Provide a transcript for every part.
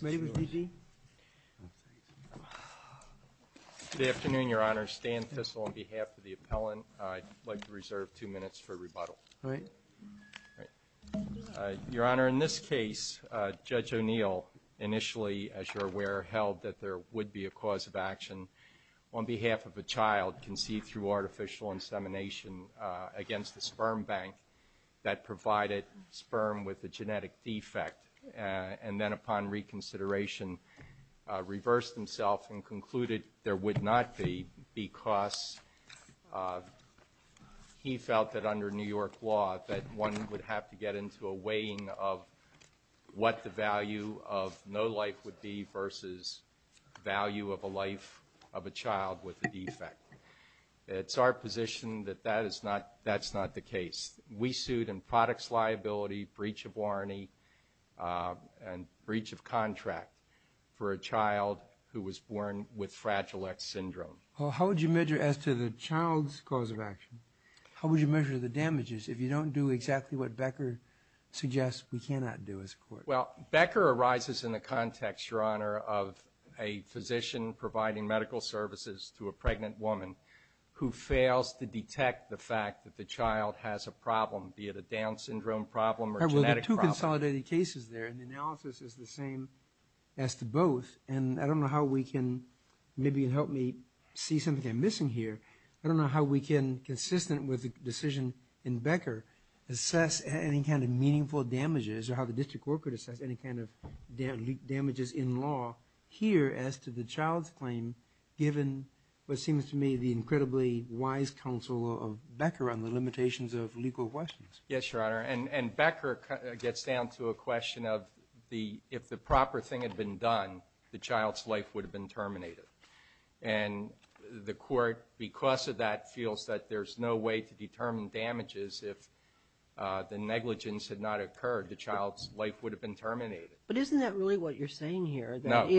Good afternoon, Your Honor. Stan Thistle on behalf of the appellant. I'd like to reserve two minutes for rebuttal. Your Honor, in this case, Judge O'Neill initially, as you're aware, held that there would be a cause of action on behalf of a child conceived through artificial insemination against the sperm bank that provided sperm with a genetic defect, and then upon reconsideration reversed himself and concluded there would not be because he felt that under New York law that one would have to get into a weighing of what the value of no life would be versus value of a life of a child with a defect. It's our position that that's not the case. We sued in products liability, breach of warranty, and breach of contract for a child who was born with Fragile X syndrome. Well, how would you measure as to the child's cause of action? How would you measure the damages if you don't do exactly what Becker suggests we cannot do as a court? Well, Becker arises in the context, Your Honor, of a physician providing medical services to a pregnant woman who fails to detect the fact that the child has a problem, be it a Down syndrome problem or genetic problem. There are two consolidated cases there, and the analysis is the same as to both, and I don't know how we can maybe help me see something I'm missing here. I don't know how we can, consistent with the decision in the case, assess any kind of damages in law here as to the child's claim, given what seems to me the incredibly wise counsel of Becker on the limitations of legal questions. Yes, Your Honor, and Becker gets down to a question of if the proper thing had been done, the child's life would have been terminated. And the court, because of that, feels that there's no way to determine But isn't that really what you're saying here, that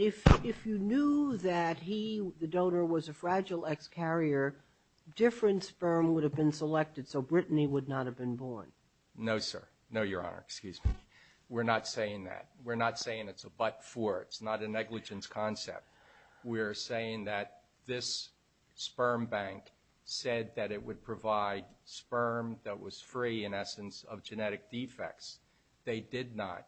if you knew that he, the donor, was a fragile ex-carrier, different sperm would have been selected, so Brittany would not have been born? No, sir. No, Your Honor. Excuse me. We're not saying that. We're not saying it's a but-for. It's not a negligence concept. We're saying that this sperm bank said that it would provide sperm that was free, in case of genetic defects. They did not.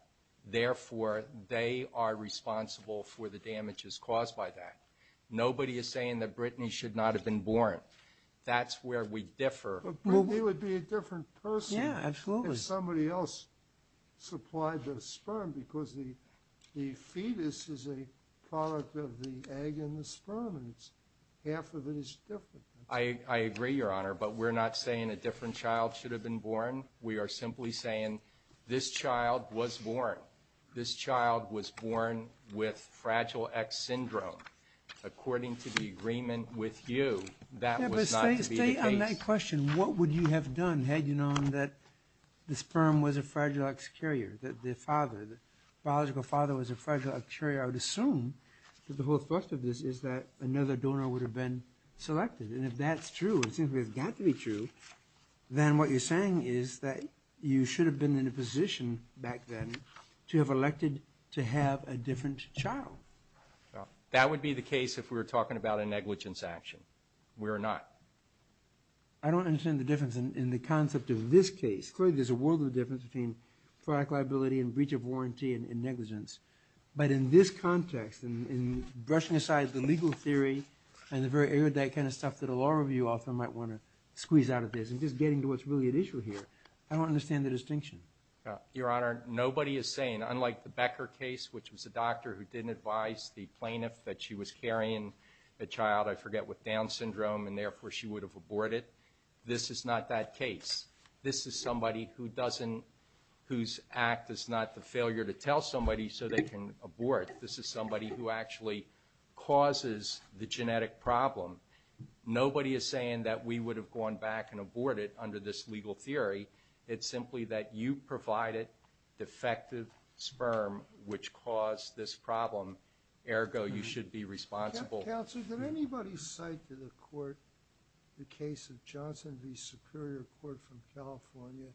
Therefore, they are responsible for the damages caused by that. Nobody is saying that Brittany should not have been born. That's where we differ. But Brittany would be a different person if somebody else supplied the sperm, because the fetus is a product of the egg and the sperm, and half of it is different. I agree, Your Honor, but we're not saying a different child should have been born. We are simply saying this child was born. This child was born with fragile ex-syndrome. According to the agreement with you, that was not to be the case. Stay on that question. What would you have done had you known that the sperm was a fragile ex-carrier, that the father, the biological father, was a fragile ex-carrier? I would assume that the whole thrust of this is that another donor would have been selected, and if that's true, it seems to me it's got to be true, then what you're saying is that you should have been in a position back then to have elected to have a different child. That would be the case if we were talking about a negligence action. We're not. I don't understand the difference in the concept of this case. Clearly, there's a world of difference between product liability and breach of warranty and negligence. But in this context, and brushing aside the legal theory and the very erudite kind of stuff that a law review author might want to squeeze out of this, and just getting to what's really at issue here, I don't understand the distinction. Your Honor, nobody is saying, unlike the Becker case, which was a doctor who didn't advise the plaintiff that she was carrying a child, I forget, with Down syndrome, and therefore she would have aborted, this is not that case. This is somebody whose act is not the failure to tell somebody so they can abort. This is somebody who actually causes the genetic problem. Nobody is saying that we would have gone back and aborted under this legal theory. It's simply that you provided defective sperm, which caused this problem. Ergo, you should be responsible. Counselor, did anybody cite to the court the case of Johnson v. Superior Court from California?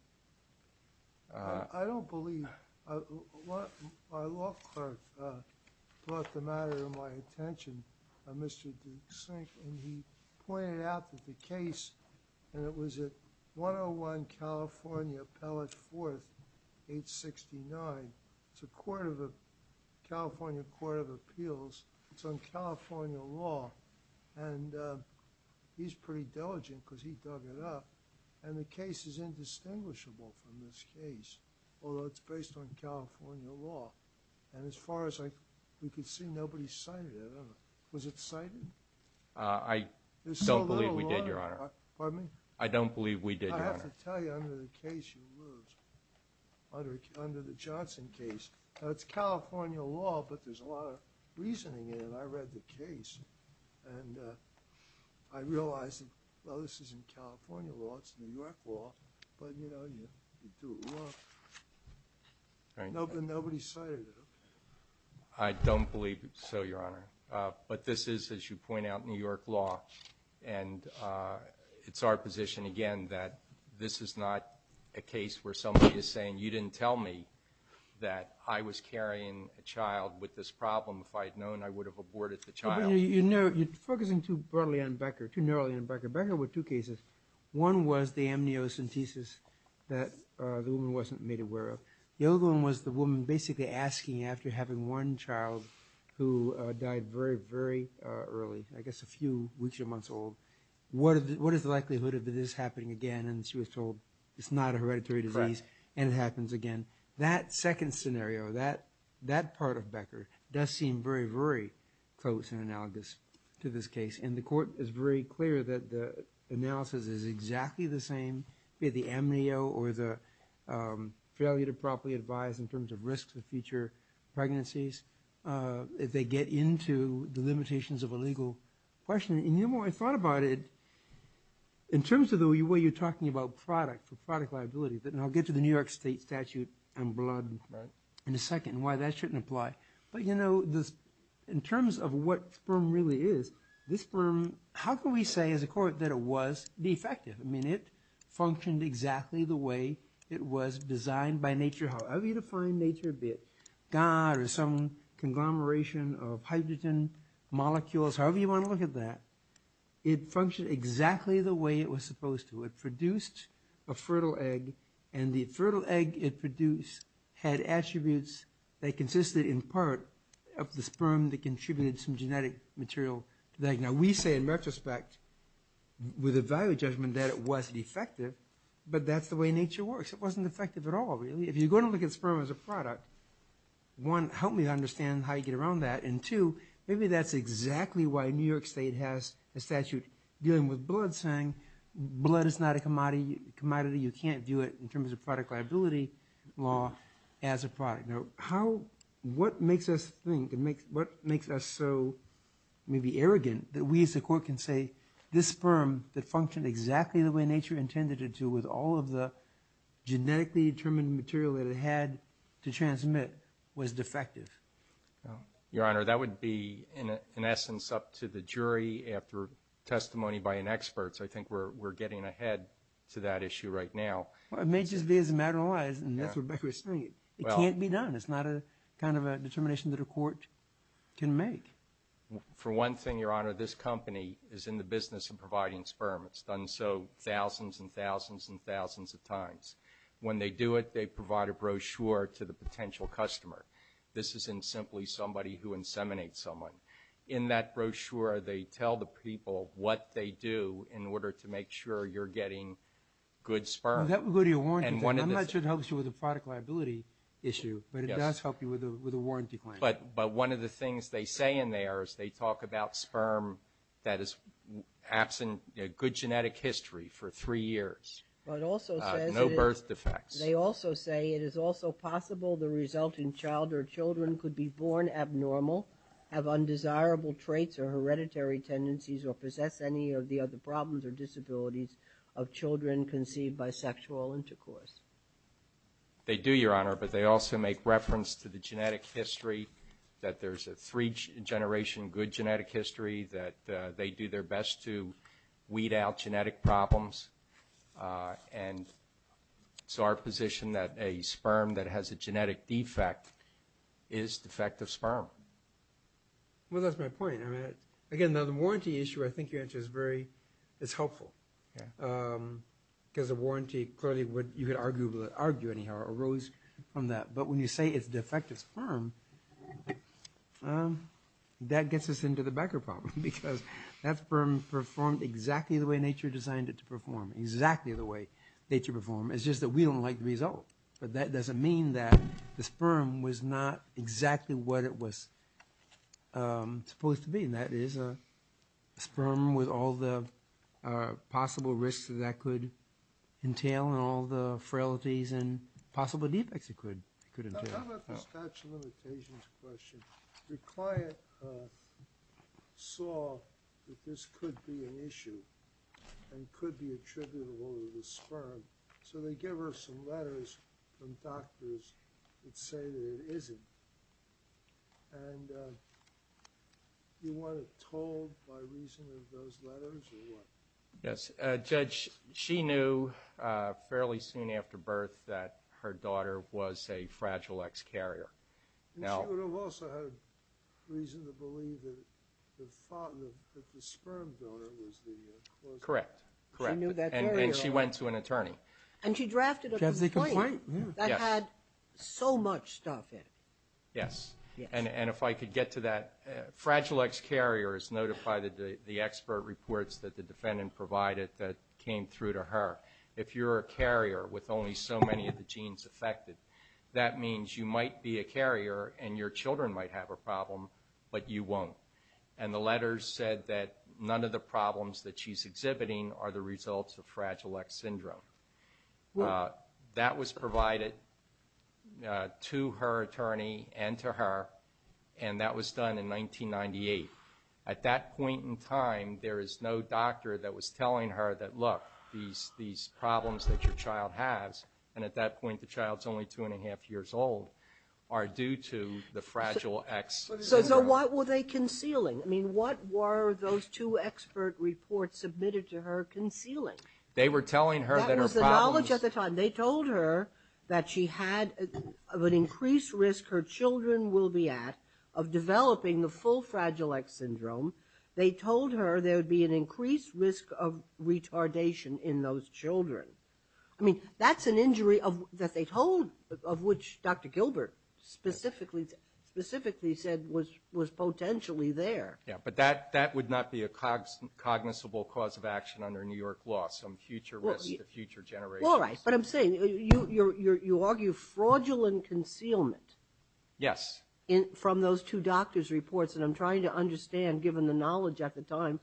I don't believe, our law clerk brought the matter to my attention, Mr. DeSink, and he pointed out that the case, and it was at 101 California Pellet Fourth, 869. It's a California Court of Appeals. It's on California law. And he's pretty diligent because he dug it up. And the case is indistinguishable from this case, although it's based on California law. And as far as I could see, nobody cited it. Was it cited? I don't believe we did, Your Honor. Pardon me? I don't believe we did, Your Honor. I have to tell you, under the case, you lose. Under the Johnson case. Now, it's California law, but there's a lot of reasoning in it. I read the case, and I realized, well, this isn't California law. It's New York law. But, you know, you do it wrong. Nobody cited it. I don't believe so, Your Honor. But this is, as you point out, New York law. And it's our position, again, that this is not a case where somebody is saying, you didn't tell me that I was carrying a child with this problem. If I had known, I would have aborted the child. You know, you're focusing too broadly on Becker, too narrowly on Becker. Becker with two cases. One was the amniocentesis that the woman wasn't made aware of. The other one was the woman basically asking, after having one child who died very, very early, I guess a few weeks or months old, what is the likelihood of this happening again? And she was told, it's not a hereditary disease, and it happens again. That second scenario, that part of Becker, does seem very, very close and analogous to this case. And the Court is very clear that the analysis is exactly the same, be it the amnio or the failure to properly advise in terms of risks of future pregnancies. If they get into the limitations of a legal question. And the more I thought about it, in terms of the way you're talking about product, product liability, and I'll get to the New York State statute on blood in a second, why that shouldn't apply. But you know, in terms of what sperm really is, this sperm, how can we say as a Court that it was defective? I mean, it functioned exactly the way it was designed by nature, however you define nature, be it some conglomeration of hydrogen molecules, however you want to look at that, it functioned exactly the way it was supposed to. It produced a fertile egg, and the fertile egg it produced had attributes that consisted in part of the sperm that contributed some genetic material to the egg. Now, we say in retrospect, with a value judgment that it was defective, but that's the way nature works. It wasn't effective at all, really. If you're going to look at sperm as a product, one, help me understand how you get around that, and two, maybe that's exactly why New York State has a statute dealing with blood, saying blood is not a commodity, you can't do it in terms of product liability law as a product. Now, what makes us think, and what makes us so maybe arrogant, that we as a Court can say, this sperm that functioned exactly the way nature intended it to with all of the genetically determined material that it had to transmit was defective? Your Honor, that would be, in essence, up to the jury after testimony by an expert, so I think we're getting ahead to that issue right now. Well, it may just be as a matter of lies, and that's what Becker was saying. It can't be done. It's not a kind of a determination that a Court can make. For one thing, Your Honor, this company is in the business of providing sperm. It's done so thousands and thousands and thousands of times. When they do it, they provide a brochure to the potential customer. This isn't simply somebody who inseminates someone. In that brochure, they tell the people what they do in order to make sure you're getting good sperm. Well, that would go to your warranty claim. I'm not sure it helps you with the product liability issue, but it does help you with a warranty claim. But one of the things they say in there is they talk about sperm that is absent good genetic history for three years, no birth defects. They also say it is also possible the resulting child or children could be born abnormal, have undesirable traits or hereditary tendencies, or possess any of the other problems or disabilities of children conceived by sexual intercourse. They do, Your Honor, but they also make reference to the genetic history, that there's a three-generation good genetic history, that they do their best to weed out genetic problems. And it's our position that a sperm that has a genetic defect is defective sperm. Well, that's my point. I mean, again, the warranty issue, I think your answer is very, it's helpful. Because a warranty, clearly, you could argue anyhow, arose from that. But when you say it's defective sperm, that gets us into the Becker problem, because that sperm performed exactly the way nature designed it to perform, exactly the way nature performed. It's just that we don't like the result. But that doesn't mean that the sperm was not exactly what it was supposed to be. And that is a sperm with all the possible risks that that could entail and all the frailties and possible defects it could entail. How about the statute of limitations question? Your client saw that this could be an issue and could be attributable to the sperm. So they give her some letters from doctors that say that it isn't. And you want it told by reason of those letters or what? Yes. Judge, she knew fairly soon after birth that her daughter was a fragile ex-carrier. And she would have also had a reason to believe that the sperm donor was the cause of death. Correct. And she went to an attorney. And she drafted a complaint that had so much stuff in it. Yes. And if I could get to that, fragile ex-carrier is noted by the expert reports that the defendant provided that came through to her. If you're a carrier with only so many of the genes affected, that means you might be a carrier and your children might have a problem, but you won't. And the letters said that none of the problems that she's exhibiting are the results of fragile ex-syndrome. That was provided to her attorney and to her. And that was done in 1998. At that point in time, there is no doctor that was telling her that, look, these problems that your child has, and at that point the child's only two and a half years old, are due to the fragile ex-syndrome. So what were they concealing? I mean, what were those two expert reports submitted to her concealing? They were telling her that her problems... That was the knowledge at the time. They told her that she had an increased risk her children will be at of developing the full fragile ex-syndrome. They told her there would be an increased risk of retardation in those children. I mean, that's an injury that they told, of which Dr. Gilbert specifically said was potentially there. Yeah, but that would not be a cognizable cause of action under New York law, some future risk to future generations. All right, but I'm saying you argue fraudulent concealment. Yes. From those two doctor's reports, and I'm trying to understand, given the knowledge at the the problem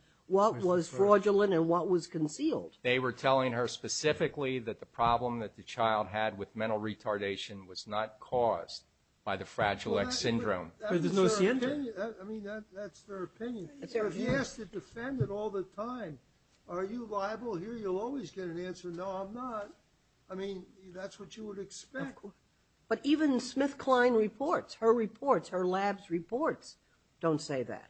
that the child had with mental retardation was not caused by the fragile ex-syndrome. That's their opinion. I mean, that's their opinion. If you ask the defendant all the time, are you liable here, you'll always get an answer, no, I'm not. I mean, that's what you would expect. But even SmithKline reports, her reports, her lab's reports, don't say that.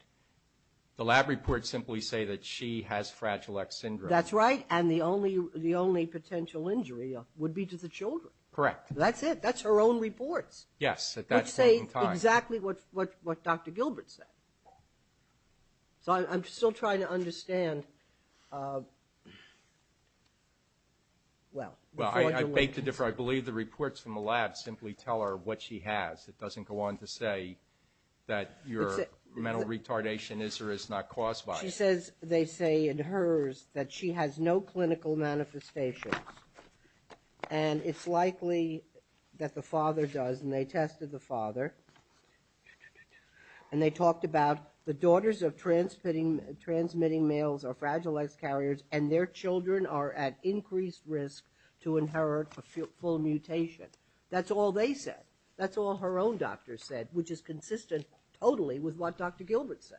The lab reports simply say that she has fragile ex-syndrome. That's right, and the only potential injury would be to the children. Correct. That's it. That's her own reports. Yes, at that time. Which say exactly what Dr. Gilbert said. So I'm still trying to understand. Well, I beg to differ. I believe the reports from the lab simply tell her what she has. It doesn't go on to say that your mental retardation is or is not caused by it. She says they say in hers that she has no clinical manifestations, and it's likely that the father does, and they tested the father, and they talked about the daughters of transmitting males are fragile ex-carriers, and their children are at increased risk to inherit a full mutation. That's all they said. That's all her own doctor said, which is consistent totally with what Dr. Gilbert said.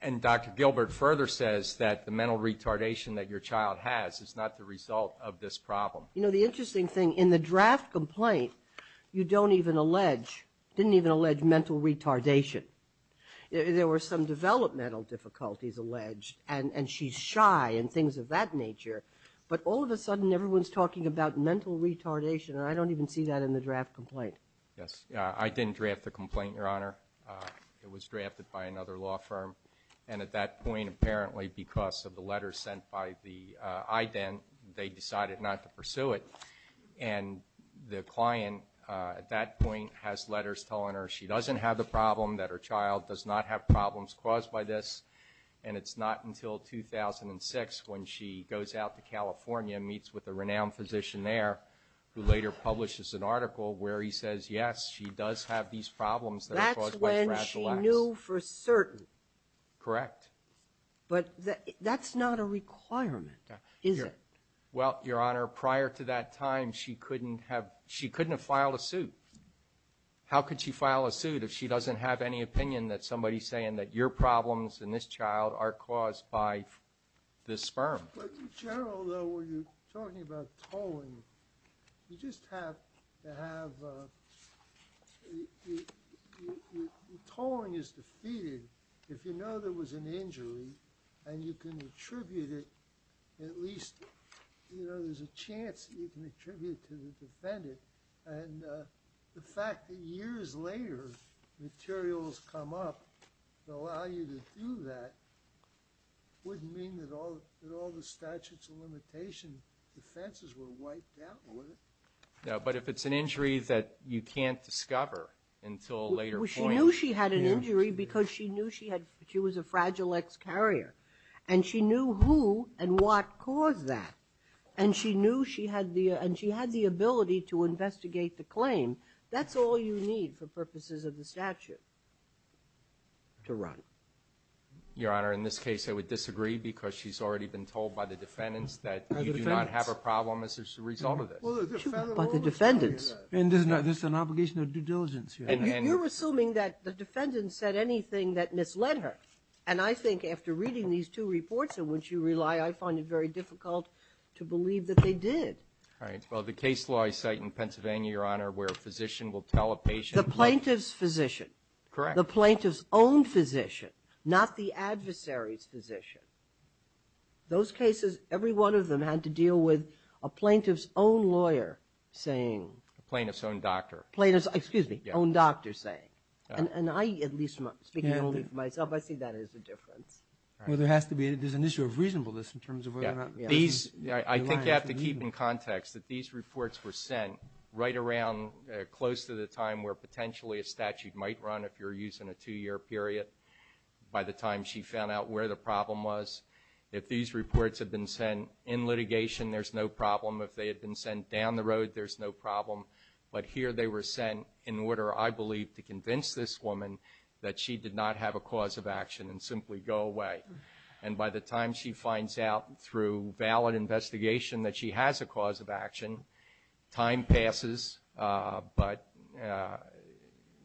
And Dr. Gilbert further says that the mental retardation that your child has is not the result of this problem. You know, the interesting thing, in the draft complaint, you don't even allege, didn't even allege mental retardation. There were some developmental difficulties alleged, and she's shy and things of that nature. But all of a sudden, everyone's talking about retardation, and I don't even see that in the draft complaint. Yes, I didn't draft the complaint, Your Honor. It was drafted by another law firm, and at that point, apparently because of the letters sent by the IDENT, they decided not to pursue it. And the client at that point has letters telling her she doesn't have the problem, that her child does not have problems caused by this, and it's not until 2006 when she goes out to California and meets with a renowned physician there, who later publishes an article where he says, yes, she does have these problems that are caused by the brachylaxis. That's when she knew for certain. Correct. But that's not a requirement, is it? Well, Your Honor, prior to that time, she couldn't have filed a suit. How could she file a suit if she doesn't have any opinion that somebody's saying that your problems and this child are caused by this sperm? But in general, though, when you're talking about tolling, you just have to have—tolling is defeated if you know there was an injury and you can attribute it, at least, you know, there's a chance that you can attribute it to the defendant. And the fact that years later, materials come up that allow you to do that wouldn't mean that all the statutes of limitation defenses were wiped out, would it? No, but if it's an injury that you can't discover until a later point— She knew she had an injury because she knew she had—she was a fragile ex-carrier. And she knew who and what caused that. And she knew she had the—and she had the ability to investigate the claim. That's all you need for purposes of the statute to run. Your Honor, in this case, I would disagree because she's already been told by the defendants that you do not have a problem as a result of this. But the defendants— And this is an obligation of due diligence. And you're assuming that the defendants said anything that misled her. And I think after reading these two reports in which you rely, I find it very difficult to believe that they did. All right. Well, the case law I cite in Pennsylvania, Your Honor, where a physician will tell a patient— The plaintiff's physician. Correct. The plaintiff's own physician, not the adversary's physician. Those cases, every one of them had to deal with a plaintiff's own lawyer saying— A plaintiff's own doctor. Plaintiff's—excuse me—own doctor saying. And I, at least speaking only for myself, I see that as a difference. Well, there has to be—there's an issue of reasonableness in terms of whether or not— I think you have to keep in context that these reports were sent right around close to the time where potentially a statute might run if you're using a two-year period. By the time she found out where the problem was, if these reports had been sent in litigation, there's no problem. If they had been sent down the road, there's no problem. But here they were sent in order, I believe, to convince this woman that she did not have a cause of action and simply go away. And by the time she finds out through valid investigation that she has a cause of action, time passes. But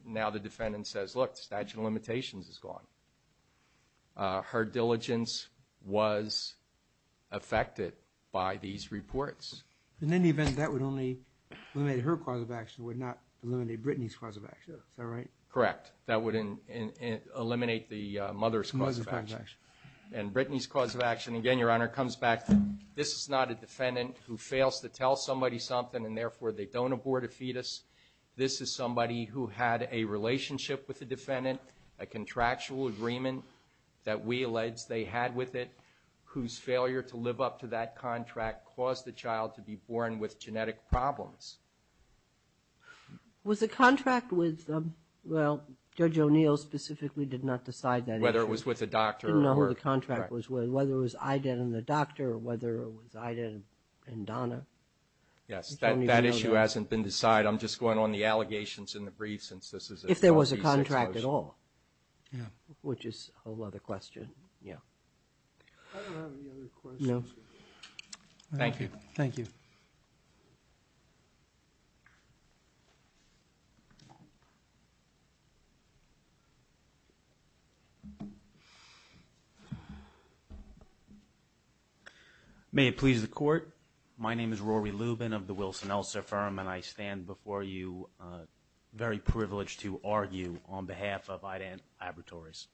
now the defendant says, look, the statute of limitations is gone. Her diligence was affected by these reports. In any event, that would only eliminate her cause of action. It would not eliminate Brittany's cause of action. Is that right? And Brittany's cause of action, again, Your Honor, comes back to this is not a defendant who fails to tell somebody something and therefore they don't abort a fetus. This is somebody who had a relationship with the defendant, a contractual agreement that we allege they had with it, whose failure to live up to that contract caused the child to be born with genetic problems. Was the contract with, well, Judge O'Neill specifically did not decide whether it was with a doctor. No, the contract was whether it was Ida and the doctor or whether it was Ida and Donna. Yes, that issue hasn't been decided. I'm just going on the allegations in the brief since this is. If there was a contract at all. Yeah. Which is a whole other question. Yeah. I don't have any other questions. No. Thank you. Thank you. May it please the Court. My name is Rory Lubin of the Wilson-Elser firm and I stand before you very privileged to argue on behalf of Ida and Laboratories.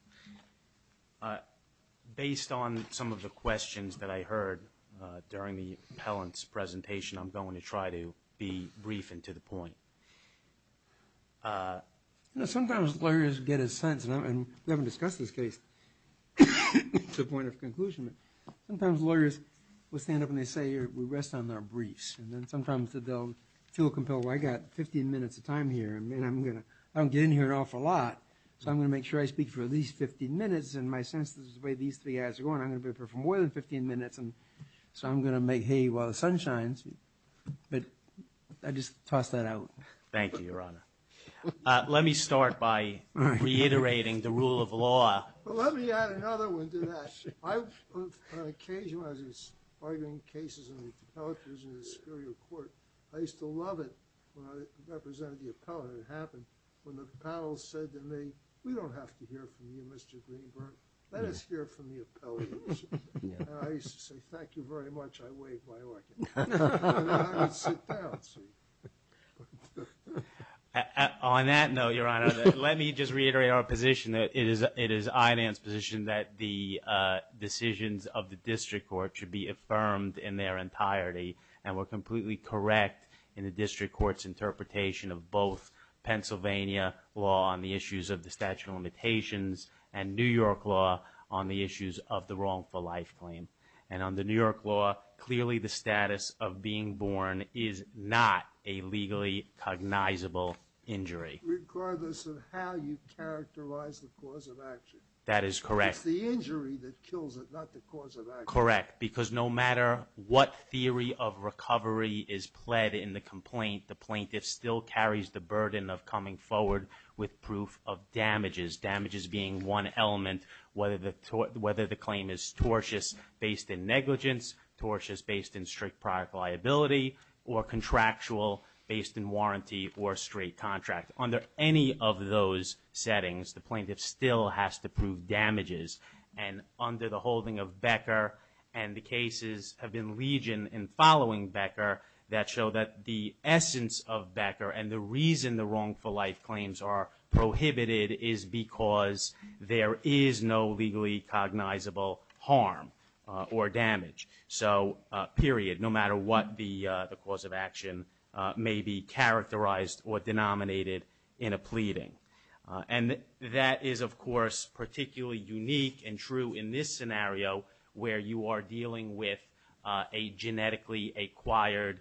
Based on some of the questions that I heard during the appellant's presentation, I'm going to try to be brief and to the point. You know, sometimes lawyers get a sense, and we haven't discussed this case to the point of conclusion, but sometimes lawyers will stand up and they say, we rest on our briefs. And then sometimes they'll feel compelled, well, I got 15 minutes of time here and I'm going to, I don't get in here an awful lot. So I'm going to make sure I speak for at least 15 minutes. And my sense is the way these three guys are going, I'm going to prefer more than 15 minutes. And so I'm going to make hay while the sun shines, but I just tossed that out. Thank you, Your Honor. Let me start by reiterating the rule of law. Well, let me add another one to that. I've, on occasion, when I was arguing cases in the appellate division of the Superior Court, I used to love it when I represented the appellant. It happened when the panel said to me, we don't have to hear from you, Mr. Greenberg. Let us hear from the appellate. And I used to say, thank you very much. I waved my orchid. And then I would sit down. So on that note, Your Honor, let me just reiterate our position that it is, it is INAN's position that the decisions of the district court should be affirmed in their entirety. And we're completely correct in the district court's interpretation of both Pennsylvania law on the issues of the statute of limitations and New York law on the issues of the wrongful claim. And on the New York law, clearly the status of being born is not a legally cognizable injury. Regardless of how you characterize the cause of action. That is correct. It's the injury that kills it, not the cause of action. Correct. Because no matter what theory of recovery is pled in the complaint, the plaintiff still carries the burden of coming forward with proof of damages, damages being one element, whether the claim is tortious based in negligence, tortious based in strict product liability, or contractual based in warranty or straight contract. Under any of those settings, the plaintiff still has to prove damages. And under the holding of Becker, and the cases have been legion in following Becker, that show that the essence of Becker and the reason the wrongful life claims are there is no legally cognizable harm or damage. So period. No matter what the cause of action may be characterized or denominated in a pleading. And that is, of course, particularly unique and true in this scenario, where you are dealing with a genetically acquired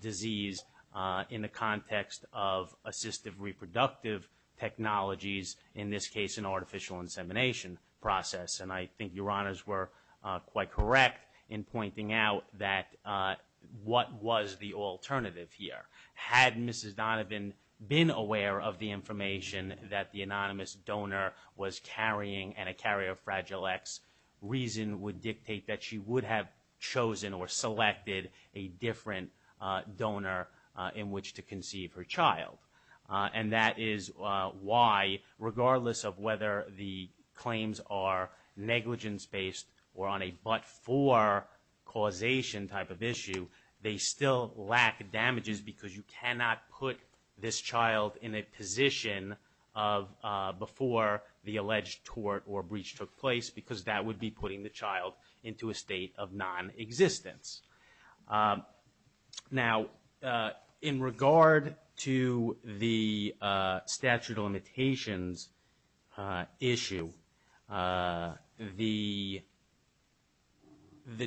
disease in the context of assistive reproductive technologies, in this case, an artificial insemination process. And I think your honors were quite correct in pointing out that what was the alternative here? Had Mrs. Donovan been aware of the information that the anonymous donor was carrying, and a carrier of Fragile X reason would dictate that she would have chosen or selected a different donor in which to conceive her child. And that is why, regardless of whether the claims are negligence based or on a but-for causation type of issue, they still lack damages because you cannot put this child in a position of before the alleged tort or breach took place because that would be putting the child into a state of non-existence. Now, in regard to the statute of limitations issue, the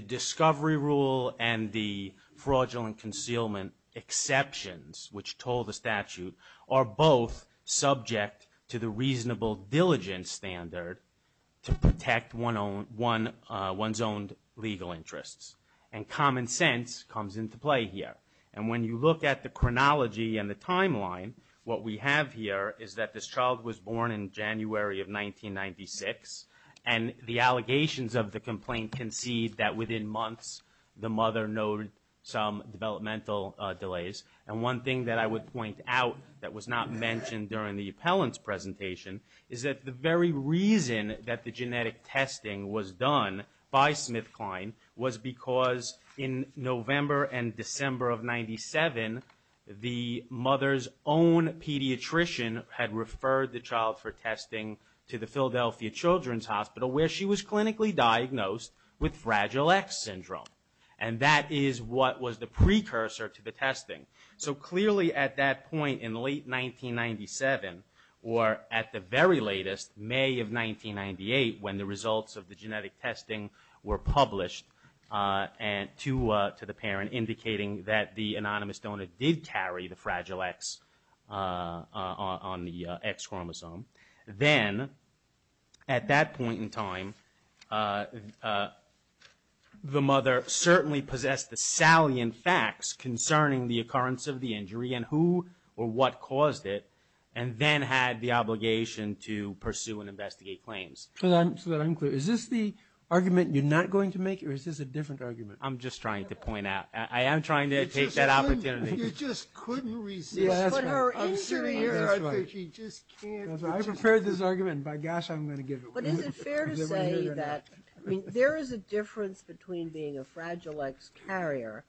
discovery rule and the fraudulent concealment exceptions, which told the statute, are both subject to the reasonable diligence standard to protect one's own legal interests. And common sense comes into play here. And when you look at the chronology and the timeline, what we have here is that this child was born in January of 1996, and the allegations of the complaint concede that within months, the mother noted some developmental delays. And one thing that I would point out that was not that the genetic testing was done by SmithKline was because in November and December of 1997, the mother's own pediatrician had referred the child for testing to the Philadelphia Children's Hospital where she was clinically diagnosed with Fragile X syndrome. And that is what was the precursor to the testing. So clearly at that point in late 1997, or at the very latest, May of 1998, when the results of the genetic testing were published to the parent indicating that the anonymous donor did carry the Fragile X on the X chromosome, then at that point in time, the mother certainly possessed the salient facts concerning the occurrence of the injury and who or what caused it, and then had the obligation to pursue and investigate claims. So that I'm clear, is this the argument you're not going to make, or is this a different argument? I'm just trying to point out. I am trying to take that opportunity. You just couldn't resist. Yes, but her injury, I think she just can't. I prepared this argument, and by gosh, I'm going to give it away. But is it fair to say that there is a difference between being a Fragile X carrier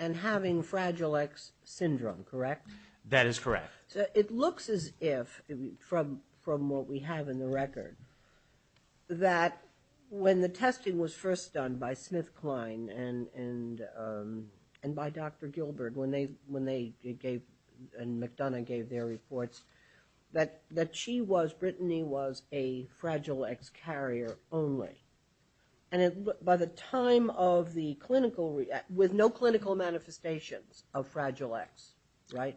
and having Fragile X syndrome, correct? That is correct. So it looks as if, from what we have in the record, that when the testing was first done by SmithKline and by Dr. Gilbert and McDonough gave their reports, that she was, Brittany was, a Fragile X carrier only. And by the time of the clinical, with no clinical manifestations of Fragile X, right?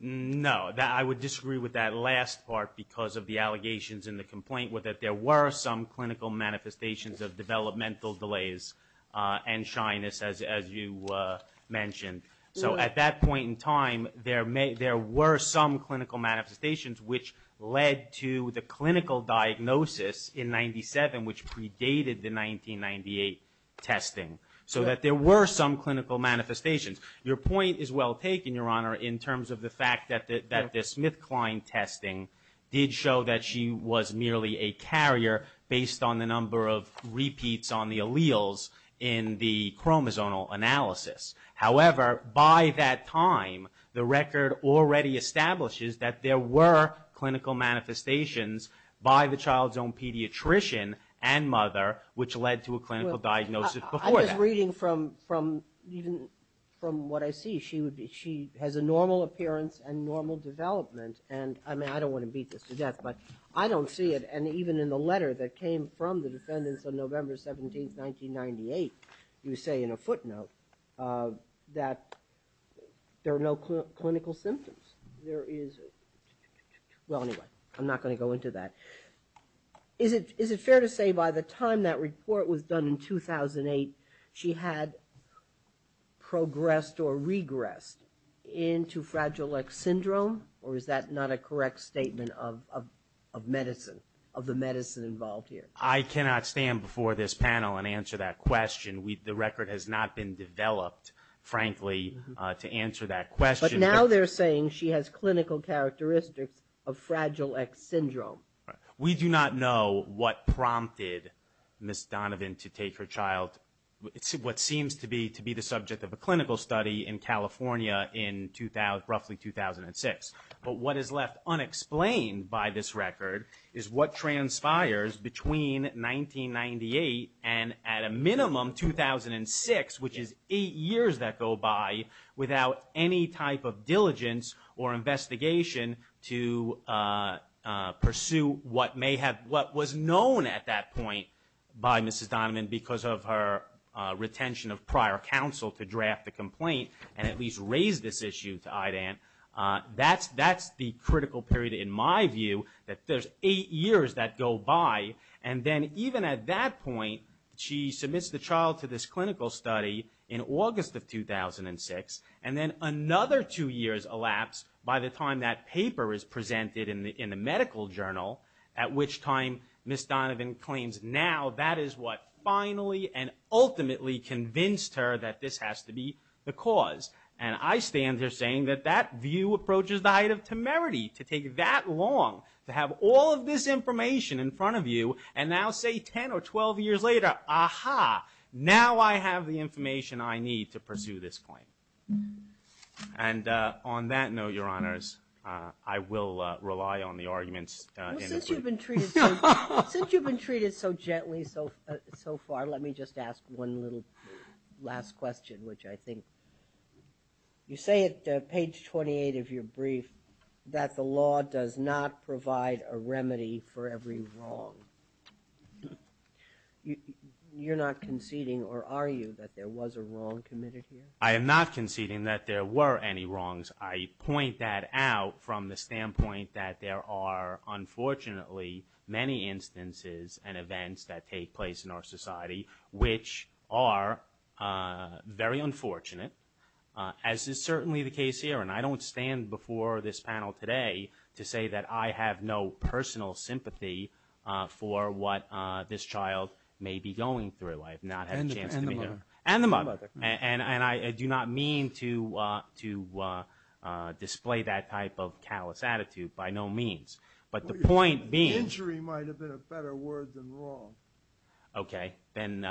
No. I would disagree with that last part because of the allegations in the complaint with that there were some clinical manifestations of developmental delays and shyness, as you mentioned. So at that point in time, there were some clinical manifestations which led to the clinical diagnosis in 97, which predated the 1998 testing. So that there were some clinical manifestations. Your point is well taken, Your Honor, in terms of the fact that the SmithKline testing did show that she was merely a carrier based on the number of repeats on the alleles in the chromosomal analysis. However, by that time, the record already establishes that there were clinical manifestations by the child's own pediatrician and mother, which led to a clinical diagnosis before that. I'm just reading from what I see. She has a normal appearance and normal development. And I mean, I don't want to beat this to death, but I don't see it. And even in the letter that came from the defendants on November 17, 1998, you say in a footnote that there are no clinical symptoms. There is, well, anyway, I'm not going to go into that. Is it fair to say by the time that report was done in 2008, she had progressed or regressed into Fragile X syndrome, or is that not a correct statement of medicine, of the medicine involved here? I cannot stand before this panel and answer that question. The record has not been developed, frankly, to answer that question. But now they're saying she has clinical characteristics of Fragile X syndrome. Right. We do not know what prompted Ms. Donovan to take her child, what seems to be the subject of a clinical study in California in roughly 2006. But what is left unexplained by this record is what transpires between 1998 and at a minimum 2006, which is eight years that go by without any type of diligence or investigation to pursue what may have, what was known at that point by Mrs. Donovan because of her retention of prior counsel to draft the complaint and at least raise this issue to IDAN. That's the critical period in my view, that there's eight years that go by. And then even at that point, she submits the child to this clinical study in August of 2006, and then another two years elapse by the time that paper is presented in the medical journal, at which time Ms. Donovan claims now that is what finally and ultimately convinced her that this has to be the cause. And I stand here saying that that view approaches the height of temerity to take that long to have all of this information in front of you and now say 10 or 12 years later, aha, now I have the information I need to pursue this claim. And on that note, Your Honors, I will rely on the arguments. Well, since you've been treated so gently so far, let me just ask one little last question, which I think you say at page 28 of your brief that the law does not provide a remedy for every wrong. You're not conceding or are you that there was a wrong committed here? I am not conceding that there were any wrongs. I point that out from the standpoint that there are unfortunately many instances and unfortunate, as is certainly the case here. And I don't stand before this panel today to say that I have no personal sympathy for what this child may be going through. I have not had a chance to meet her. And the mother. And I do not mean to display that type of callous attitude by no means. But the point being... Injury might have been a better word than wrong. Okay, then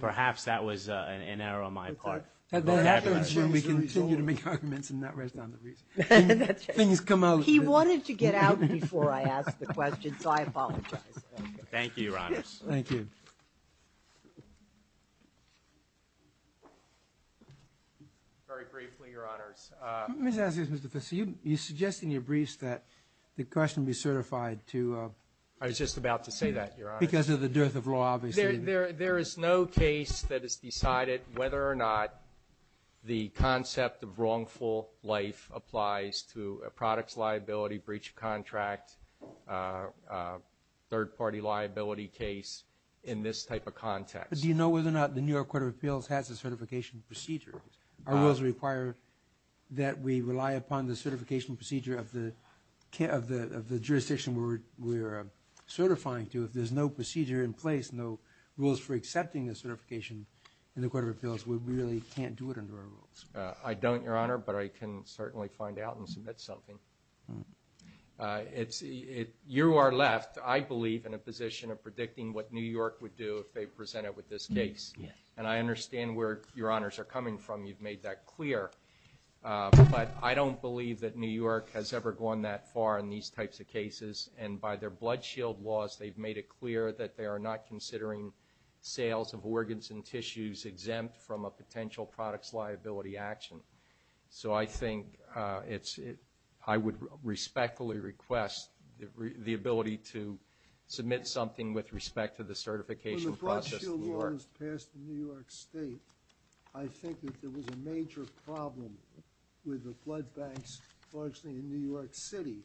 perhaps that was an error on my part. We can continue to make arguments and not rest on the reason. That's right. Things come out. He wanted to get out before I asked the question, so I apologize. Thank you, Your Honors. Thank you. Very briefly, Your Honors. Let me just ask you this, Mr. Fisher. You suggest in your briefs that the question be certified to... I was just about to say that, Your Honors. Because of the dearth of law, obviously. There is no case that has decided whether or not the concept of wrongful life applies to a products liability, breach of contract, third-party liability case in this type of context. Do you know whether or not the New York Court of Appeals has a certification procedure? Our rules require that we rely upon the certification procedure of the jurisdiction we're certifying to. There's no procedure in place, no rules for accepting the certification in the Court of Appeals. We really can't do it under our rules. I don't, Your Honor, but I can certainly find out and submit something. You are left, I believe, in a position of predicting what New York would do if they presented with this case. And I understand where Your Honors are coming from. You've made that clear. But I don't believe that New York has ever gone that far in these types of cases. And by their blood shield laws, they've made it clear that they are not considering sales of organs and tissues exempt from a potential products liability action. So I think it's, I would respectfully request the ability to submit something with respect to the certification process in New York. When the blood shield law was passed in New York State, I think that there was a major problem with the blood banks largely in New York City.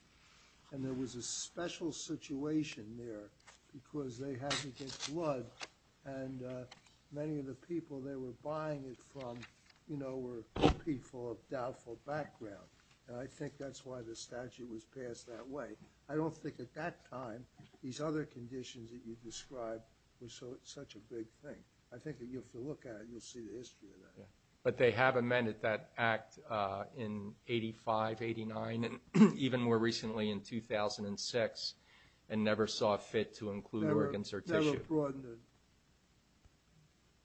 And there was a special situation there because they had to get blood. And many of the people they were buying it from were people of doubtful background. And I think that's why the statute was passed that way. I don't think at that time these other conditions that you describe were such a big thing. I think if you look at it, you'll see the history of that. But they have amended that act in 85, 89, and even more recently in 2006, and never saw fit to include organs or tissue. Never broadened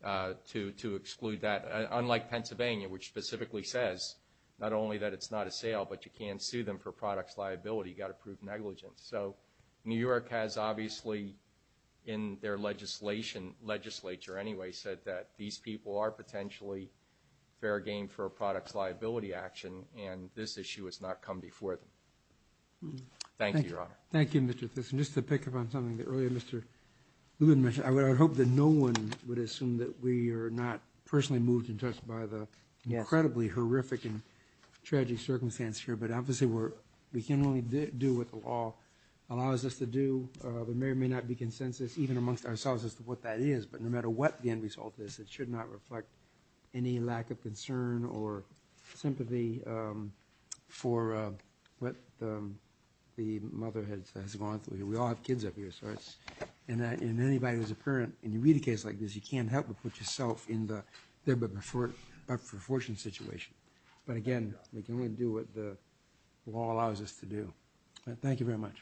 it. To exclude that. Unlike Pennsylvania, which specifically says not only that it's not a sale, but you can't sue them for products liability. You've got to prove negligence. So New York has obviously, in their legislature anyway, said that these people are potentially fair game for a products liability action. And this issue has not come before them. Thank you, Your Honor. Thank you, Mr. Thyssen. Just to pick up on something that earlier Mr. Lubin mentioned, I would hope that no one would assume that we are not personally moved and touched by the incredibly horrific and tragic circumstance here. But obviously, we can only do what the law allows us to do. There may or may not be consensus, even amongst ourselves, as to what that is. But no matter what the end result is, it should not reflect any lack of concern or sympathy for what the mother has gone through. We all have kids up here. So in anybody who's a parent, and you read a case like this, you can't help but put yourself in the there but for fortune situation. But again, we can only do what the law allows us to do. Thank you very much.